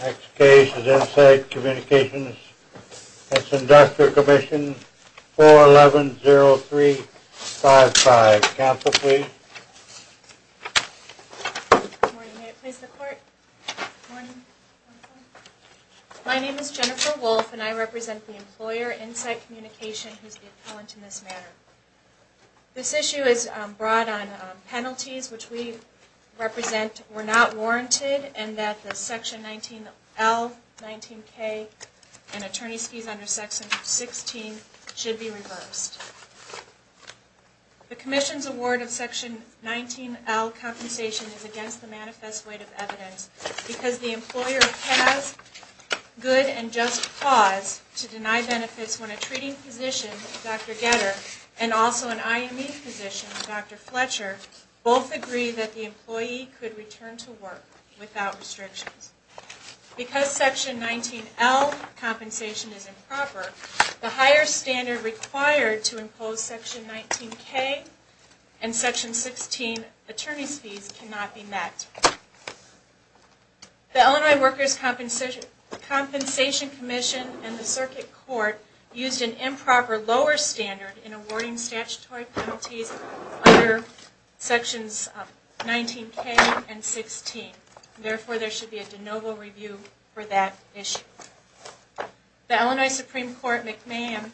Next case is Insight Communications. It's Inductor Commission 411-0355. Counsel, please. Good morning. May I please the court? My name is Jennifer Wolf and I represent the employer, Insight Communications, who is the appellant in this matter. This issue is brought on penalties which we represent were not warranted and that the section 19L, 19K, and attorney's fees under section 16 should be reversed. The commission's award of section 19L compensation is against the manifest weight of evidence because the employer has good and just cause to deny benefits when a treating physician, Dr. Getter, and also an IME physician, Dr. Fletcher, both agree that the employee could return to work without restrictions. Because section 19L compensation is improper, the higher standard required to impose section 19K and section 16 attorney's fees cannot be met. The Illinois Workers' Compensation Commission and the circuit court used an improper lower standard in awarding statutory penalties under sections 19K and 16. Therefore, there should be a de novo review for that issue. The Illinois Supreme Court McMahon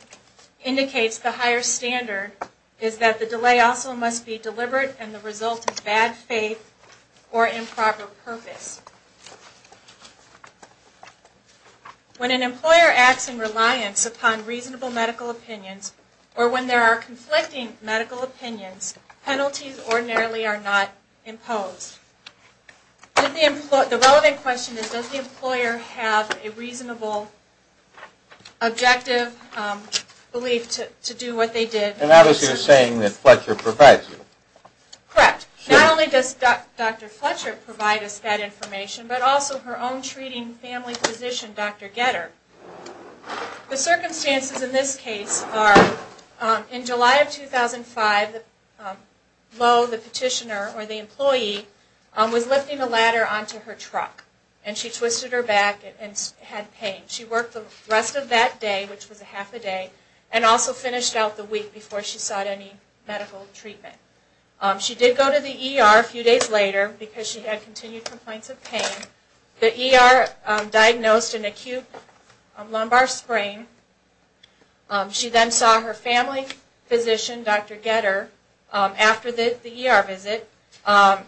indicates the higher standard is that the delay also must be deliberate and the result of bad faith or improper purpose. When an employer acts in reliance upon reasonable medical opinions or when there are conflicting medical opinions, penalties ordinarily are not imposed. The relevant question is does the employer have a reasonable objective belief to do what they did? And that is you're saying that Fletcher provides you. Correct. Not only does Dr. Fletcher provide us that information, but also her own treating family physician, Dr. Getter. The circumstances in this case are in July of 2005, Lowe, the petitioner or the employee, was lifting a ladder onto her truck and she twisted her back and had pain. She worked the rest of that day, which was a half a day, and also finished out the week before she sought any medical treatment. She did go to the ER a few days later because she had continued complaints of pain. The ER diagnosed an acute lumbar sprain. She then saw her family physician, Dr. Getter, after the ER visit.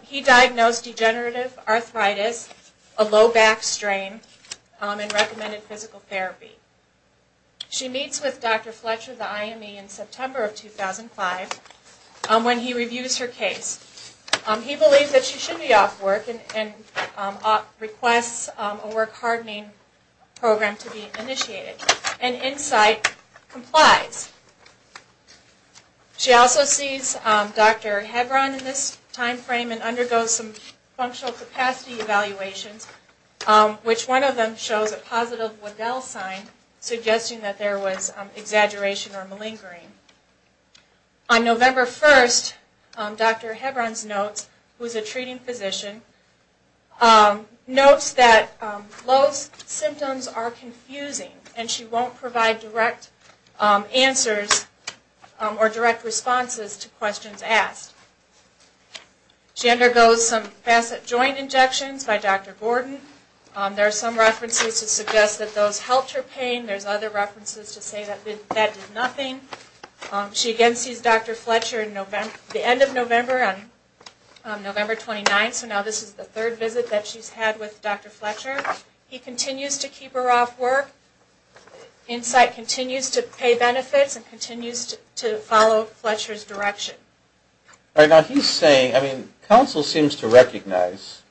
He diagnosed degenerative arthritis, a low back strain, and recommended physical therapy. She meets with Dr. Fletcher, the IME, in September of 2005 when he reviews her case. He believes that she should be off work and requests a work hardening program to be initiated. And insight complies. She also sees Dr. Hebron in this time frame and undergoes some functional capacity evaluations, which one of them shows a positive Waddell sign suggesting that there was exaggeration or malingering. On November 1st, Dr. Hebron's notes, who is a treating physician, notes that Lowe's symptoms are confusing and she won't provide direct answers or direct responses to questions asked. She undergoes some facet joint injections by Dr. Gordon. There are some references to suggest that those helped her pain. There's other references to say that that did nothing. She again sees Dr. Fletcher at the end of November on November 29th, so now this is the third visit that she's had with Dr. Fletcher. He continues to keep her off work. Insight continues to pay benefits and continues to follow Fletcher's direction. Now he's saying, I mean, counsel seems to recognize,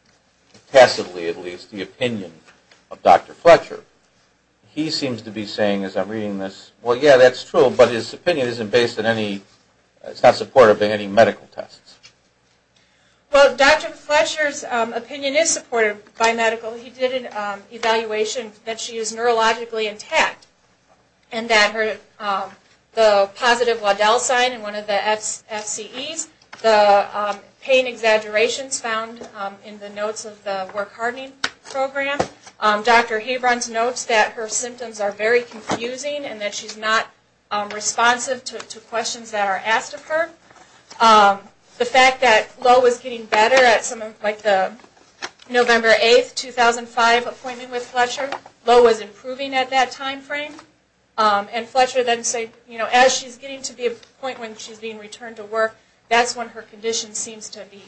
passively at least, the opinion of Dr. Fletcher. He seems to be saying as I'm reading this, well, yeah, that's true, but his opinion isn't based on any, it's not supportive of any medical tests. Well, Dr. Fletcher's opinion is supportive by medical. He did an evaluation that she is neurologically intact and that her, the positive Waddell sign in one of the FCEs, the pain exaggerations found in the notes of the work hardening program. Dr. Hebrons notes that her symptoms are very confusing and that she's not responsive to questions that are asked of her. The fact that Lowe was getting better at some of, like the November 8th, 2005 appointment with Fletcher, Lowe was improving at that time frame. And Fletcher then said, you know, as she's getting to the point when she's being returned to work, that's when her condition seems to be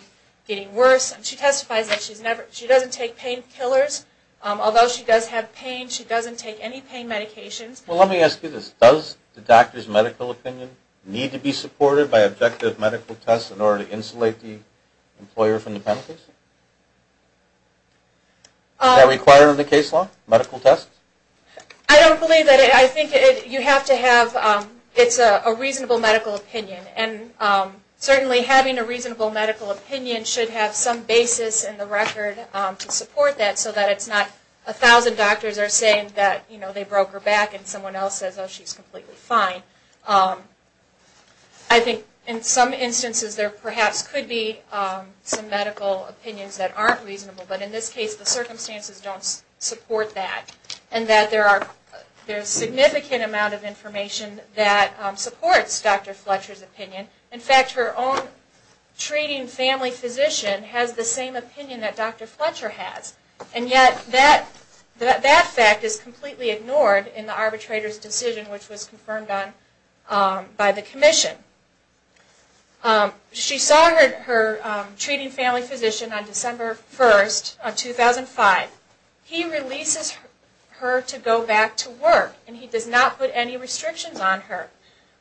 getting worse. She testifies that she doesn't take painkillers, although she does have pain. She doesn't take any pain medications. Well, let me ask you this. Does the doctor's medical opinion need to be supported by objective medical tests in order to insulate the employer from the penalty? Is that required in the case law, medical tests? I don't believe that. I think you have to have, it's a reasonable medical opinion. And certainly having a reasonable medical opinion should have some basis in the record to support that so that it's not a thousand doctors are saying that, you know, they broke her back and someone else says, oh, she's completely fine. I think in some instances there perhaps could be some medical opinions that aren't reasonable, but in this case the circumstances don't support that. And that there's significant amount of information that supports Dr. Fletcher's opinion. In fact, her own treating family physician has the same opinion that Dr. Fletcher has, and yet that fact is completely ignored in the arbitrator's decision, which was confirmed by the commission. She saw her treating family physician on December 1st of 2005. He releases her to go back to work and he does not put any restrictions on her.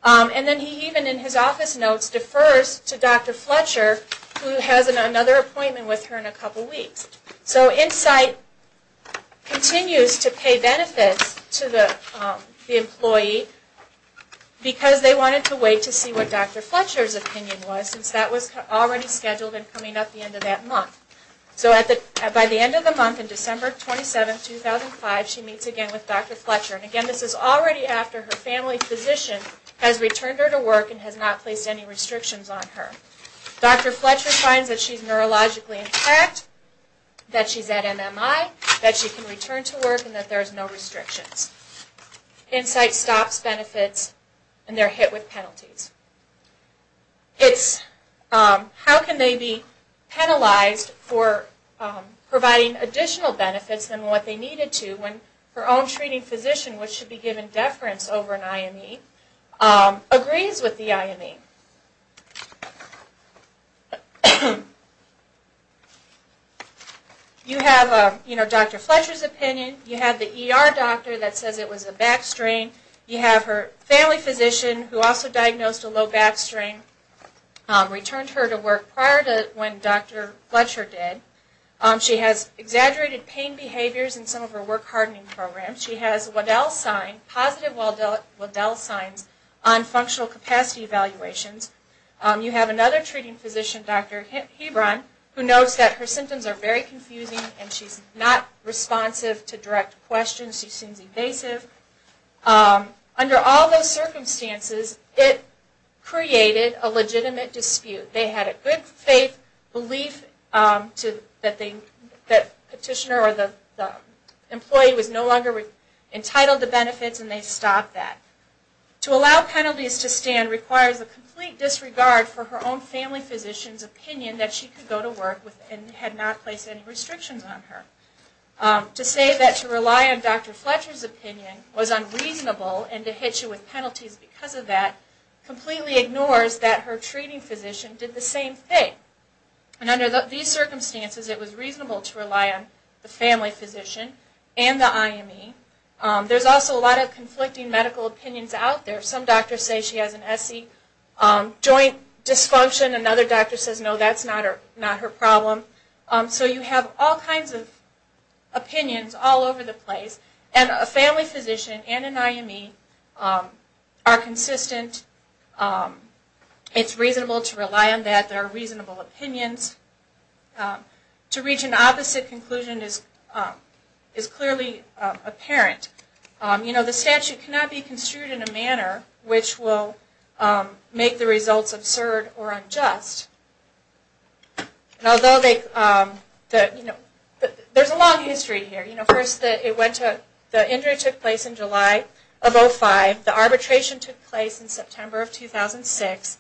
And then he even in his office notes defers to Dr. Fletcher who has another appointment with her in a couple weeks. So Insight continues to pay benefits to the employee because they wanted to wait to see what Dr. Fletcher's opinion was, since that was already scheduled and coming up the end of that month. So by the end of the month on December 27th, 2005, she meets again with Dr. Fletcher. And again, this is already after her family physician has returned her to work and has not placed any restrictions on her. Dr. Fletcher finds that she's neurologically intact, that she's at MMI, that she can return to work, and that there's no restrictions. Insight stops benefits and they're hit with penalties. It's how can they be penalized for providing additional benefits than what they needed to when her own treating physician, which should be given deference over an IME, agrees with the IME. You have Dr. Fletcher's opinion, you have the ER doctor that says it was a back strain, you have her family physician who also diagnosed a low back strain, returned her to work prior to when Dr. Fletcher did. She has exaggerated pain behaviors in some of her work hardening programs. She has positive Waddell signs on functional capacity evaluations. You have another treating physician, Dr. Hebron, who notes that her symptoms are very confusing and she's not responsive to direct questions, she seems evasive. Under all those circumstances, it created a legitimate dispute. They had a good faith belief that the petitioner or the employee was no longer entitled to benefits and they stopped that. To allow penalties to stand requires a complete disregard for her own family physician's opinion that she could go to work and had not placed any restrictions on her. To say that to rely on Dr. Fletcher's opinion was unreasonable and to hit you with penalties because of that completely ignores that her treating physician did the same thing. And under these circumstances, it was reasonable to rely on the family physician and the IME. There's also a lot of conflicting medical opinions out there. Some doctors say she has an SC joint dysfunction, another doctor says no, that's not her problem. So you have all kinds of opinions all over the place. And a family physician and an IME are consistent. It's reasonable to rely on that. There are reasonable opinions. To reach an opposite conclusion is clearly apparent. The statute cannot be construed in a manner which will make the results absurd or unjust. There's a long history here. The injury took place in July of 2005. The arbitration took place in September of 2006.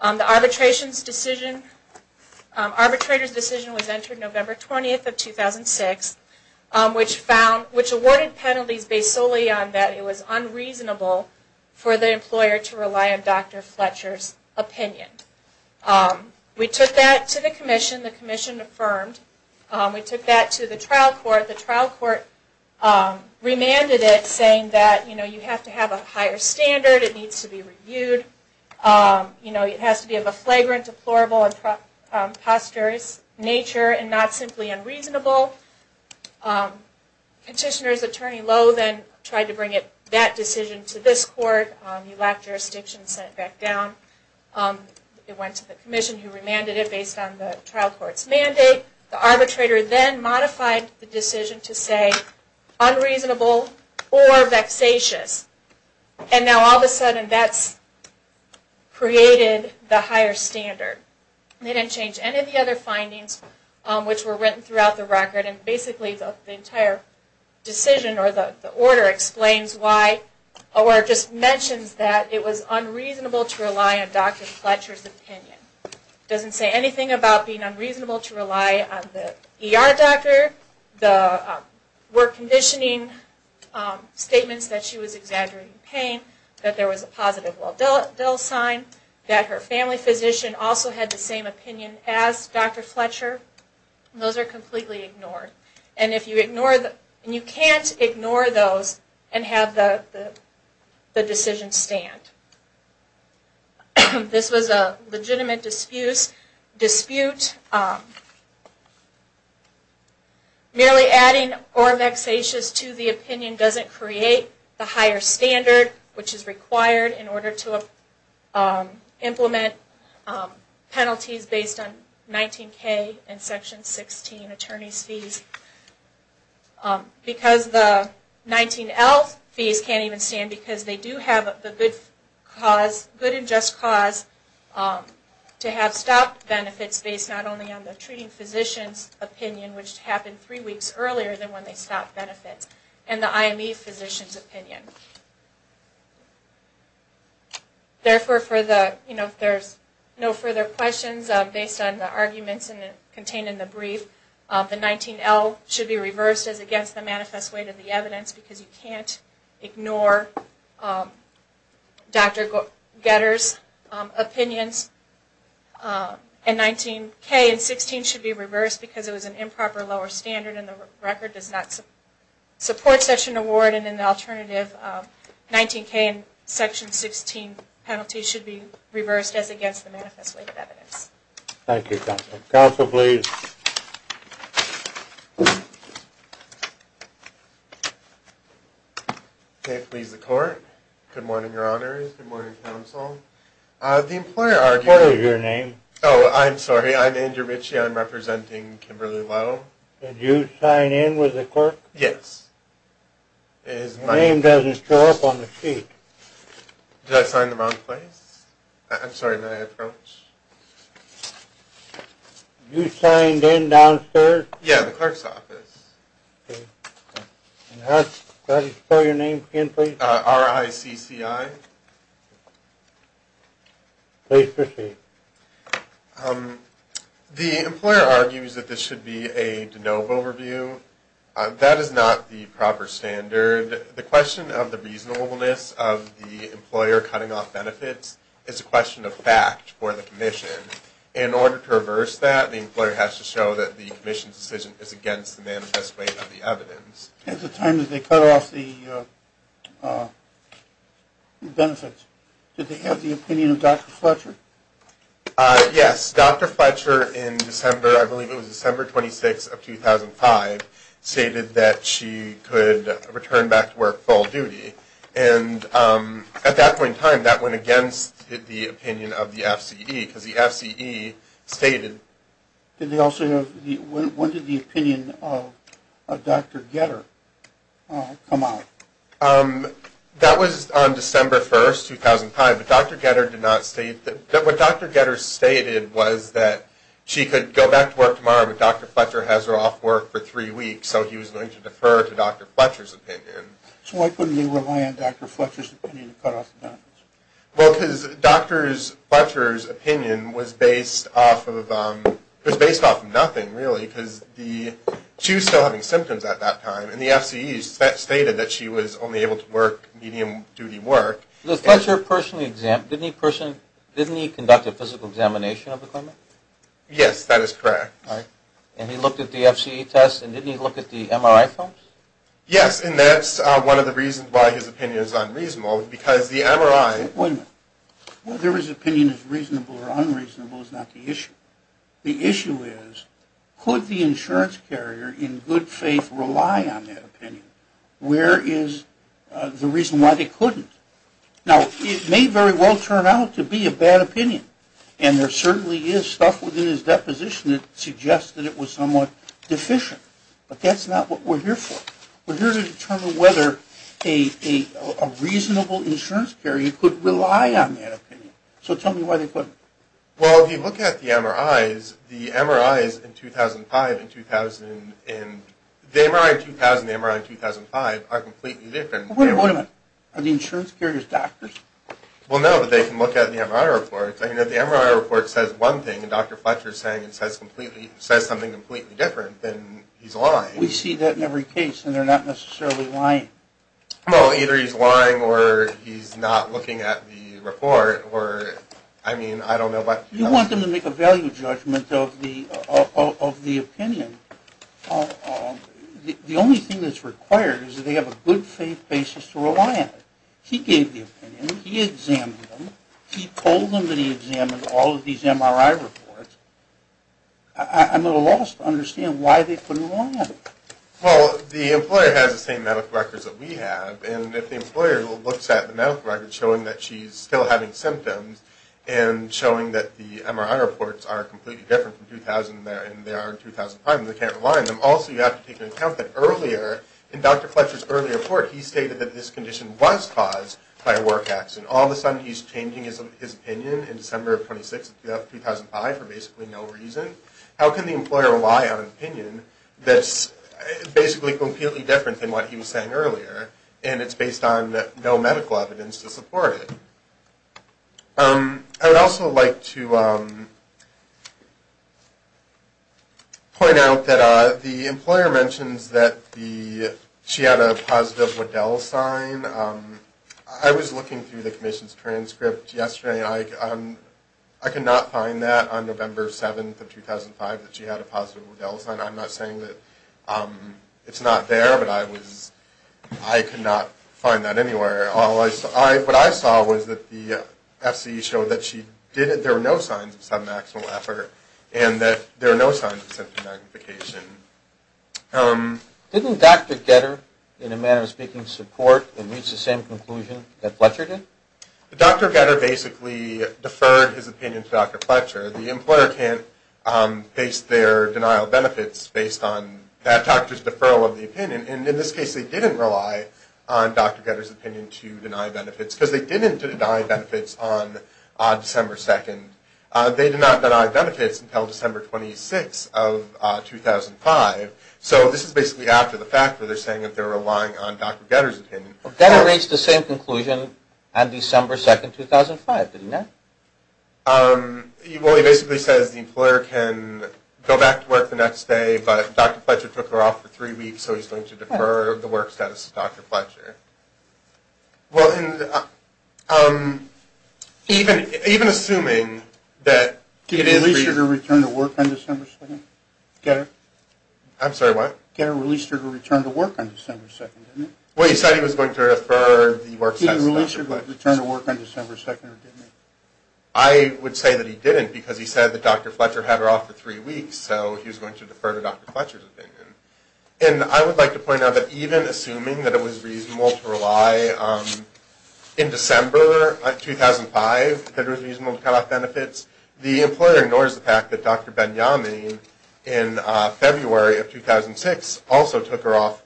The arbitrator's decision was entered November 20th of 2006, which awarded penalties based solely on that it was unreasonable for the employer to rely on Dr. Fletcher's opinion. We took that to the commission. The commission affirmed. We took that to the trial court. The trial court remanded it saying that you have to have a higher standard, it needs to be reviewed, it has to be of a flagrant, deplorable, and posterous nature and not simply unreasonable. Petitioner's attorney Lowe then tried to bring that decision to this court. He lacked jurisdiction and sent it back down. It went to the commission who remanded it based on the trial court's mandate. The arbitrator then modified the decision to say unreasonable or vexatious. And now all of a sudden that's created the higher standard. They didn't change any of the other findings which were written throughout the record. Basically the entire decision or the order explains why or just mentions that it was unreasonable to rely on Dr. Fletcher's opinion. It doesn't say anything about being unreasonable to rely on the ER doctor, the work conditioning statements that she was exaggerating pain, that there was a positive Waldell sign, that her family physician also had the same opinion as Dr. Fletcher. Those are completely ignored. And you can't ignore those and have the decision stand. This was a legitimate dispute. Merely adding or vexatious to the opinion doesn't create the higher standard which is required in order to implement penalties based on 19K and Section 16 attorney's fees. Because the 19L fees can't even stand because they do have the good and just cause to have stopped benefits based not only on the treating physician's opinion, which happened three weeks earlier than when they stopped benefits, and the IME physician's opinion. Therefore, if there's no further questions based on the arguments contained in the brief, the 19L should be reversed as against the manifest weight of the evidence because you can't ignore Dr. Getter's opinions. And 19K and 16 should be reversed because it was an improper lower standard and the record does not support such an award. And in the alternative, 19K and Section 16 penalties should be reversed as against the manifest weight of evidence. Thank you, counsel. Counsel, please. Okay, please, the court. Good morning, your honor. Good morning, counsel. The employer argued... What is your name? Oh, I'm sorry. I'm Andrew Ritchie. I'm representing Kimberly Lowe. Did you sign in with the clerk? Yes. Your name doesn't show up on the sheet. Did I sign the wrong place? I'm sorry, may I approach? You signed in downstairs? Yeah, the clerk's office. Okay. Can I have you spell your name again, please? R-I-C-C-I. Please proceed. The employer argues that this should be a de novo review. That is not the proper standard. The question of the reasonableness of the employer cutting off benefits is a question of fact for the commission. In order to reverse that, the employer has to show that the commission's decision is against the manifest weight of the evidence. At the time that they cut off the benefits, did they have the opinion of Dr. Fletcher? Yes. Dr. Fletcher in December, I believe it was December 26th of 2005, stated that she could return back to work full duty. And at that point in time, that went against the opinion of the FCE, because the FCE stated. Did they also have the ñ when did the opinion of Dr. Getter come out? That was on December 1st, 2005. But Dr. Getter did not state that ñ what Dr. Getter stated was that she could go back to work tomorrow, but Dr. Fletcher has her off work for three weeks, so he was going to defer to Dr. Fletcher's opinion. So why couldn't they rely on Dr. Fletcher's opinion to cut off the benefits? Well, because Dr. Fletcher's opinion was based off of ñ was based off of nothing, really, because she was still having symptoms at that time, and the FCE stated that she was only able to work medium duty work. Did Fletcher personally ñ didn't he conduct a physical examination of the clinic? Yes, that is correct. And he looked at the FCE tests, and didn't he look at the MRI films? Yes, and that's one of the reasons why his opinion is unreasonable, because the MRI ñ Wait a minute. Whether his opinion is reasonable or unreasonable is not the issue. The issue is, could the insurance carrier in good faith rely on that opinion? Where is the reason why they couldn't? Now, it may very well turn out to be a bad opinion, and there certainly is stuff within his deposition that suggests that it was somewhat deficient, but that's not what we're here for. We're here to determine whether a reasonable insurance carrier could rely on that opinion. So tell me why they couldn't. Well, if you look at the MRIs, the MRIs in 2005 and ñ the MRI in 2000 and the MRI in 2005 are completely different. Wait a minute. Are the insurance carriers doctors? Well, no, but they can look at the MRI reports. I mean, if the MRI report says one thing, and Dr. Fletcher is saying it says something completely different, then he's lying. We see that in every case, and they're not necessarily lying. Well, either he's lying or he's not looking at the report, or, I mean, I don't know. You want them to make a value judgment of the opinion. The only thing that's required is that they have a good faith basis to rely on. He gave the opinion. He examined them. He told them that he examined all of these MRI reports. I'm at a loss to understand why they couldn't rely on it. Well, the employer has the same medical records that we have, and if the employer looks at the medical records showing that she's still having symptoms and showing that the MRI reports are completely different from 2000 and the MRI in 2005 and they can't rely on them, also you have to take into account that earlier, in Dr. Fletcher's earlier report, he stated that this condition was caused by a work accident. All of a sudden, he's changing his opinion in December of 2006 and 2005 for basically no reason. How can the employer rely on an opinion that's basically completely different than what he was saying earlier, and it's based on no medical evidence to support it? I would also like to point out that the employer mentions that she had a positive Waddell sign. I was looking through the commission's transcript yesterday. I could not find that on November 7th of 2005 that she had a positive Waddell sign. I'm not saying that it's not there, but I could not find that anywhere. What I saw was that the FCE showed that there were no signs of submaximal effort and that there were no signs of symptom magnification. Didn't Dr. Getter, in a manner of speaking, support and reach the same conclusion that Fletcher did? Dr. Getter basically deferred his opinion to Dr. Fletcher. The employer can't base their denial of benefits based on that doctor's deferral of the opinion. In this case, they didn't rely on Dr. Getter's opinion to deny benefits because they didn't deny benefits on December 2nd. They did not deny benefits until December 26th of 2005. This is basically after the fact where they're saying that they're relying on Dr. Getter's opinion. Dr. Getter reached the same conclusion on December 2nd, 2005, did he not? Well, he basically says the employer can go back to work the next day, but Dr. Fletcher took her off for three weeks, so he's going to defer the work status to Dr. Fletcher. Well, even assuming that... Did he release her to return to work on December 2nd? I'm sorry, what? Getter released her to return to work on December 2nd, didn't he? Well, he said he was going to defer the work status to Dr. Fletcher. He didn't release her to return to work on December 2nd, or didn't he? I would say that he didn't because he said that Dr. Fletcher had her off for three weeks, so he was going to defer to Dr. Fletcher's opinion. And I would like to point out that even assuming that it was reasonable to rely, in December 2005, that it was reasonable to cut off benefits, the employer ignores the fact that Dr. Ben-Yamin in February of 2006 also took her off.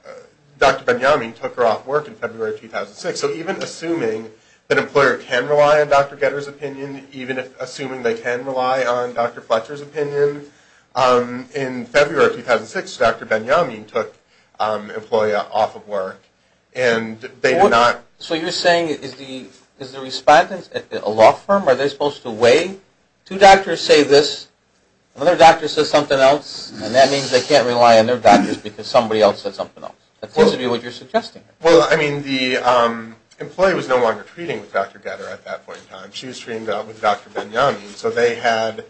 Dr. Ben-Yamin took her off work in February of 2006. So even assuming that an employer can rely on Dr. Getter's opinion, even assuming they can rely on Dr. Fletcher's opinion, in February of 2006, Dr. Ben-Yamin took an employer off of work, and they did not... Two doctors say this, another doctor says something else, and that means they can't rely on their doctors because somebody else said something else. That seems to be what you're suggesting. Well, I mean, the employee was no longer treating with Dr. Getter at that point in time. She was treating with Dr. Ben-Yamin, so they had...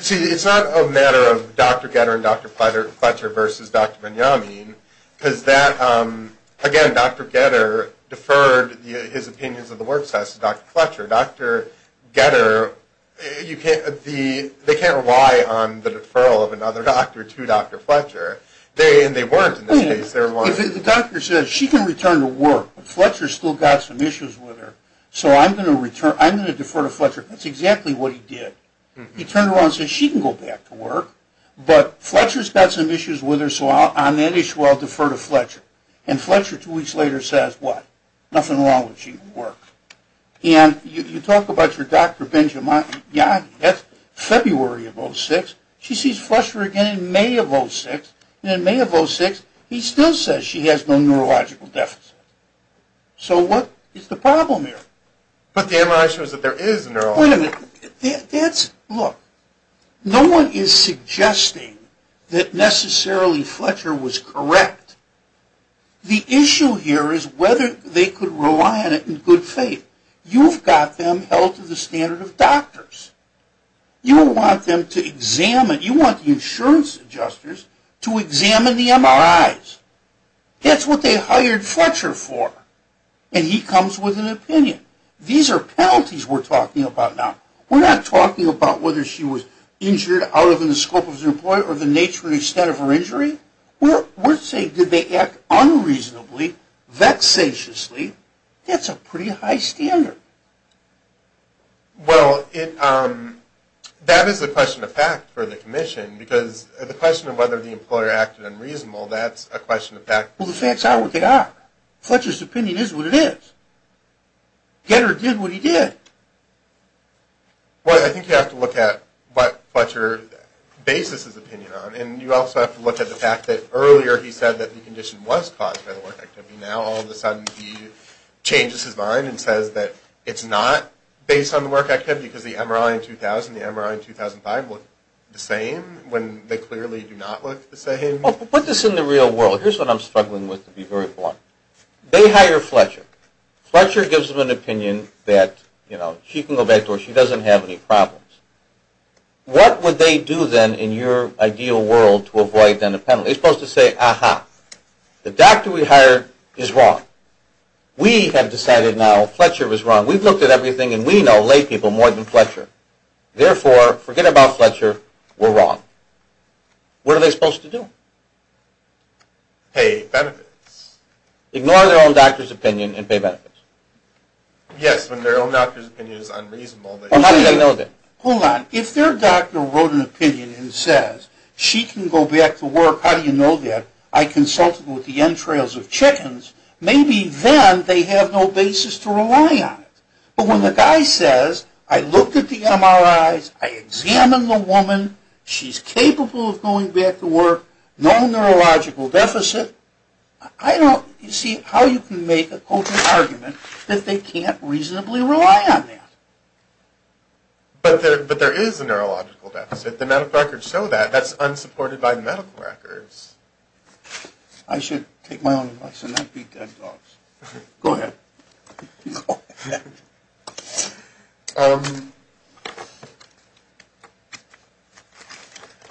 See, it's not a matter of Dr. Getter and Dr. Fletcher versus Dr. Ben-Yamin, because that, again, Dr. Getter deferred his opinions of the work status to Dr. Fletcher. Dr. Getter, they can't rely on the deferral of another doctor to Dr. Fletcher, and they weren't in this case. The doctor says, she can return to work, but Fletcher's still got some issues with her, so I'm going to defer to Fletcher. That's exactly what he did. He turned around and said, she can go back to work, but Fletcher's got some issues with her, so on that issue, I'll defer to Fletcher. And Fletcher, two weeks later, says what? Nothing wrong with she going to work. And you talk about your Dr. Ben-Yamin, that's February of 2006. She sees Fletcher again in May of 2006, and in May of 2006, he still says she has no neurological deficits. So what is the problem here? But the MRI shows that there is a neurological... Wait a minute. That's... Look, no one is suggesting that necessarily Fletcher was correct. The issue here is whether they could rely on it in good faith. You've got them held to the standard of doctors. You don't want them to examine... You want the insurance adjusters to examine the MRIs. That's what they hired Fletcher for, and he comes with an opinion. These are penalties we're talking about now. We're not talking about whether she was injured out of the scope of her employer or the nature and extent of her injury. We're saying did they act unreasonably, vexatiously? That's a pretty high standard. Well, that is a question of fact for the commission, because the question of whether the employer acted unreasonably, that's a question of fact. Well, the facts are what they are. Fletcher's opinion is what it is. Getter did what he did. Well, I think you have to look at what Fletcher bases his opinion on, and you also have to look at the fact that earlier he said that the condition was caused by the work activity. Now all of a sudden he changes his mind and says that it's not based on the work activity because the MRI in 2000 and the MRI in 2005 look the same when they clearly do not look the same. Put this in the real world. Here's what I'm struggling with to be very blunt. They hire Fletcher. Fletcher gives them an opinion that she can go back to work, she doesn't have any problems. What would they do then in your ideal world to avoid then a penalty? They're supposed to say, aha, the doctor we hired is wrong. We have decided now Fletcher was wrong. We've looked at everything, and we know lay people more than Fletcher. Therefore, forget about Fletcher. We're wrong. What are they supposed to do? Pay benefits. Ignore their own doctor's opinion and pay benefits. Yes, when their own doctor's opinion is unreasonable. Well, how do you know that? Hold on. If their doctor wrote an opinion and says she can go back to work, how do you know that? I consulted with the entrails of chickens. Maybe then they have no basis to rely on it. But when the guy says I looked at the MRIs, I examined the woman, she's capable of going back to work, no neurological deficit, I don't see how you can make an open argument that they can't reasonably rely on that. But there is a neurological deficit. The medical records show that. That's unsupported by the medical records. I should take my own advice and not beat dead dogs. Go ahead. Go ahead.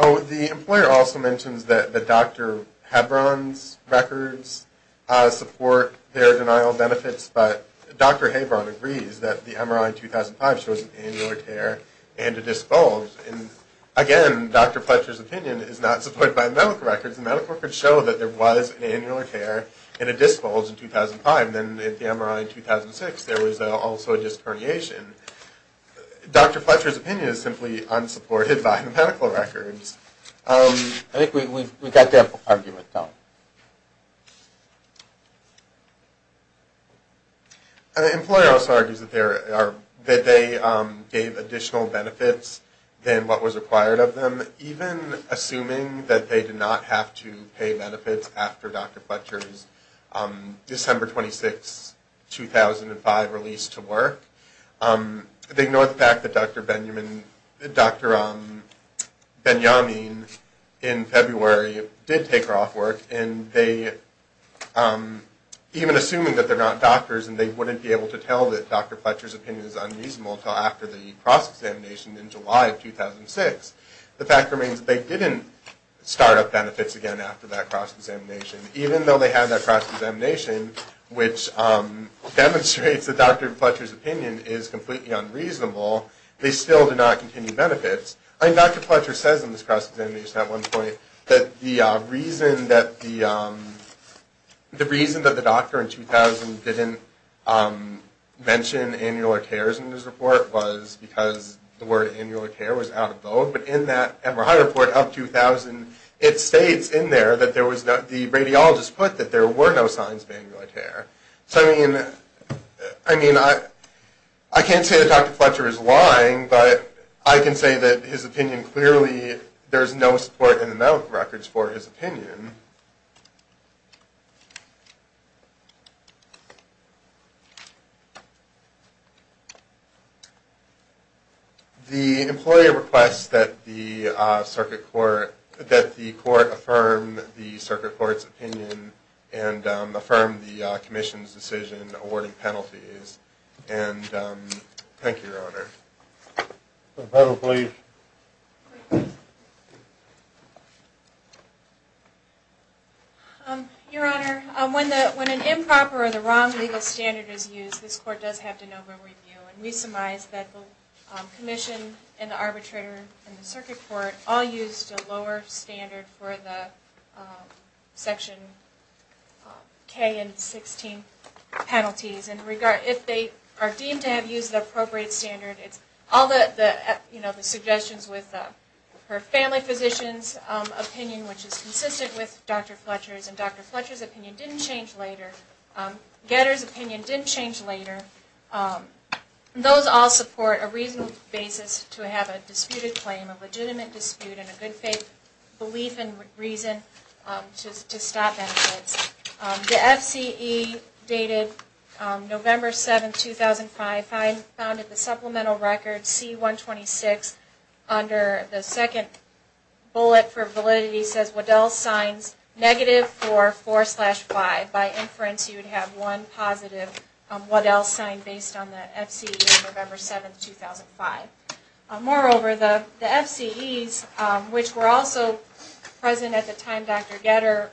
Oh, the employer also mentions that Dr. Hebron's records support their denial of benefits, but Dr. Hebron agrees that the MRI in 2005 shows an annular tear and a disc bulge. And, again, Dr. Fletcher's opinion is not supported by the medical records. The medical records show that there was an annular tear and a disc bulge in 2005, and then at the MRI in 2006 there was also a disc herniation. Dr. Fletcher's opinion is simply unsupported by the medical records. I think we've got the argument, Tom. The employer also argues that they gave additional benefits than what was required of them, but even assuming that they did not have to pay benefits after Dr. Fletcher's December 26, 2005 release to work, they ignore the fact that Dr. Benjamin in February did take her off work, and even assuming that they're not doctors and they wouldn't be able to tell that Dr. Fletcher's opinion is unreasonable until after the cross-examination in July of 2006, the fact remains that they didn't start up benefits again after that cross-examination. Even though they had that cross-examination, which demonstrates that Dr. Fletcher's opinion is completely unreasonable, they still do not continue benefits. I mean, Dr. Fletcher says in this cross-examination at one point that the reason that the doctor in 2000 didn't mention annular tears in his report was because the word annular tear was out of vogue, but in that Emmerheim report of 2000, it states in there that the radiologist put that there were no signs of annular tear. So, I mean, I can't say that Dr. Fletcher is lying, but I can say that his opinion clearly, there's no support in the medical records for his opinion. The employer requests that the circuit court, that the court affirm the circuit court's opinion and affirm the commission's decision awarding penalties. And thank you, Your Honor. The panel, please. Your Honor, when an improper or the wrong legal standard is used, this court does have to know where we view. And we surmise that the commission and the arbitrator and the circuit court all used a lower standard for the Section K and 16 penalties. And if they are deemed to have used the appropriate standard, it's all the suggestions with her family physician's opinion, which is consistent with Dr. Fletcher's, and Dr. Fletcher's opinion didn't change later. Getter's opinion didn't change later. Those all support a reasonable basis to have a disputed claim, a legitimate dispute, and a good faith belief and reason to stop benefits. The FCE dated November 7, 2005, found in the supplemental record C-126 under the second bullet for validity says Waddell signs negative for 4 slash 5. By inference, you would have one positive Waddell sign based on the FCE of November 7, 2005. Moreover, the FCEs, which were also present at the time Dr. Getter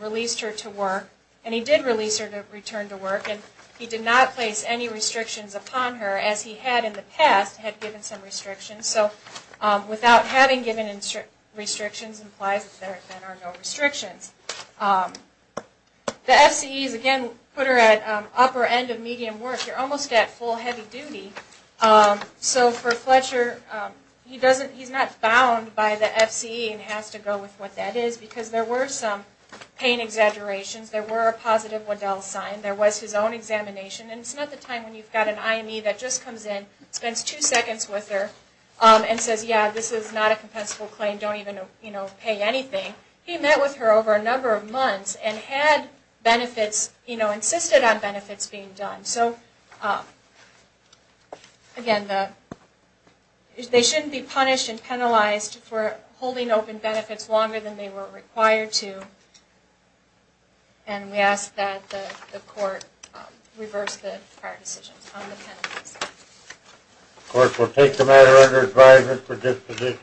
released her to work, and he did release her to return to work, and he did not place any restrictions upon her as he had in the past, had given some restrictions. So without having given restrictions implies that there are no restrictions. The FCEs, again, put her at upper end of medium work. You're almost at full heavy duty. So for Fletcher, he's not bound by the FCE and has to go with what that is because there were some pain exaggerations. There were a positive Waddell sign. There was his own examination. And it's not the time when you've got an IME that just comes in, spends two seconds with her, and says, yeah, this is not a compensable claim. Don't even pay anything. He met with her over a number of months and had benefits, insisted on benefits being done. So again, they shouldn't be punished and penalized for holding open benefits longer than they were required to. And we ask that the court reverse the prior decisions on the penalties. Of course, we'll take the matter under advisement for disposition.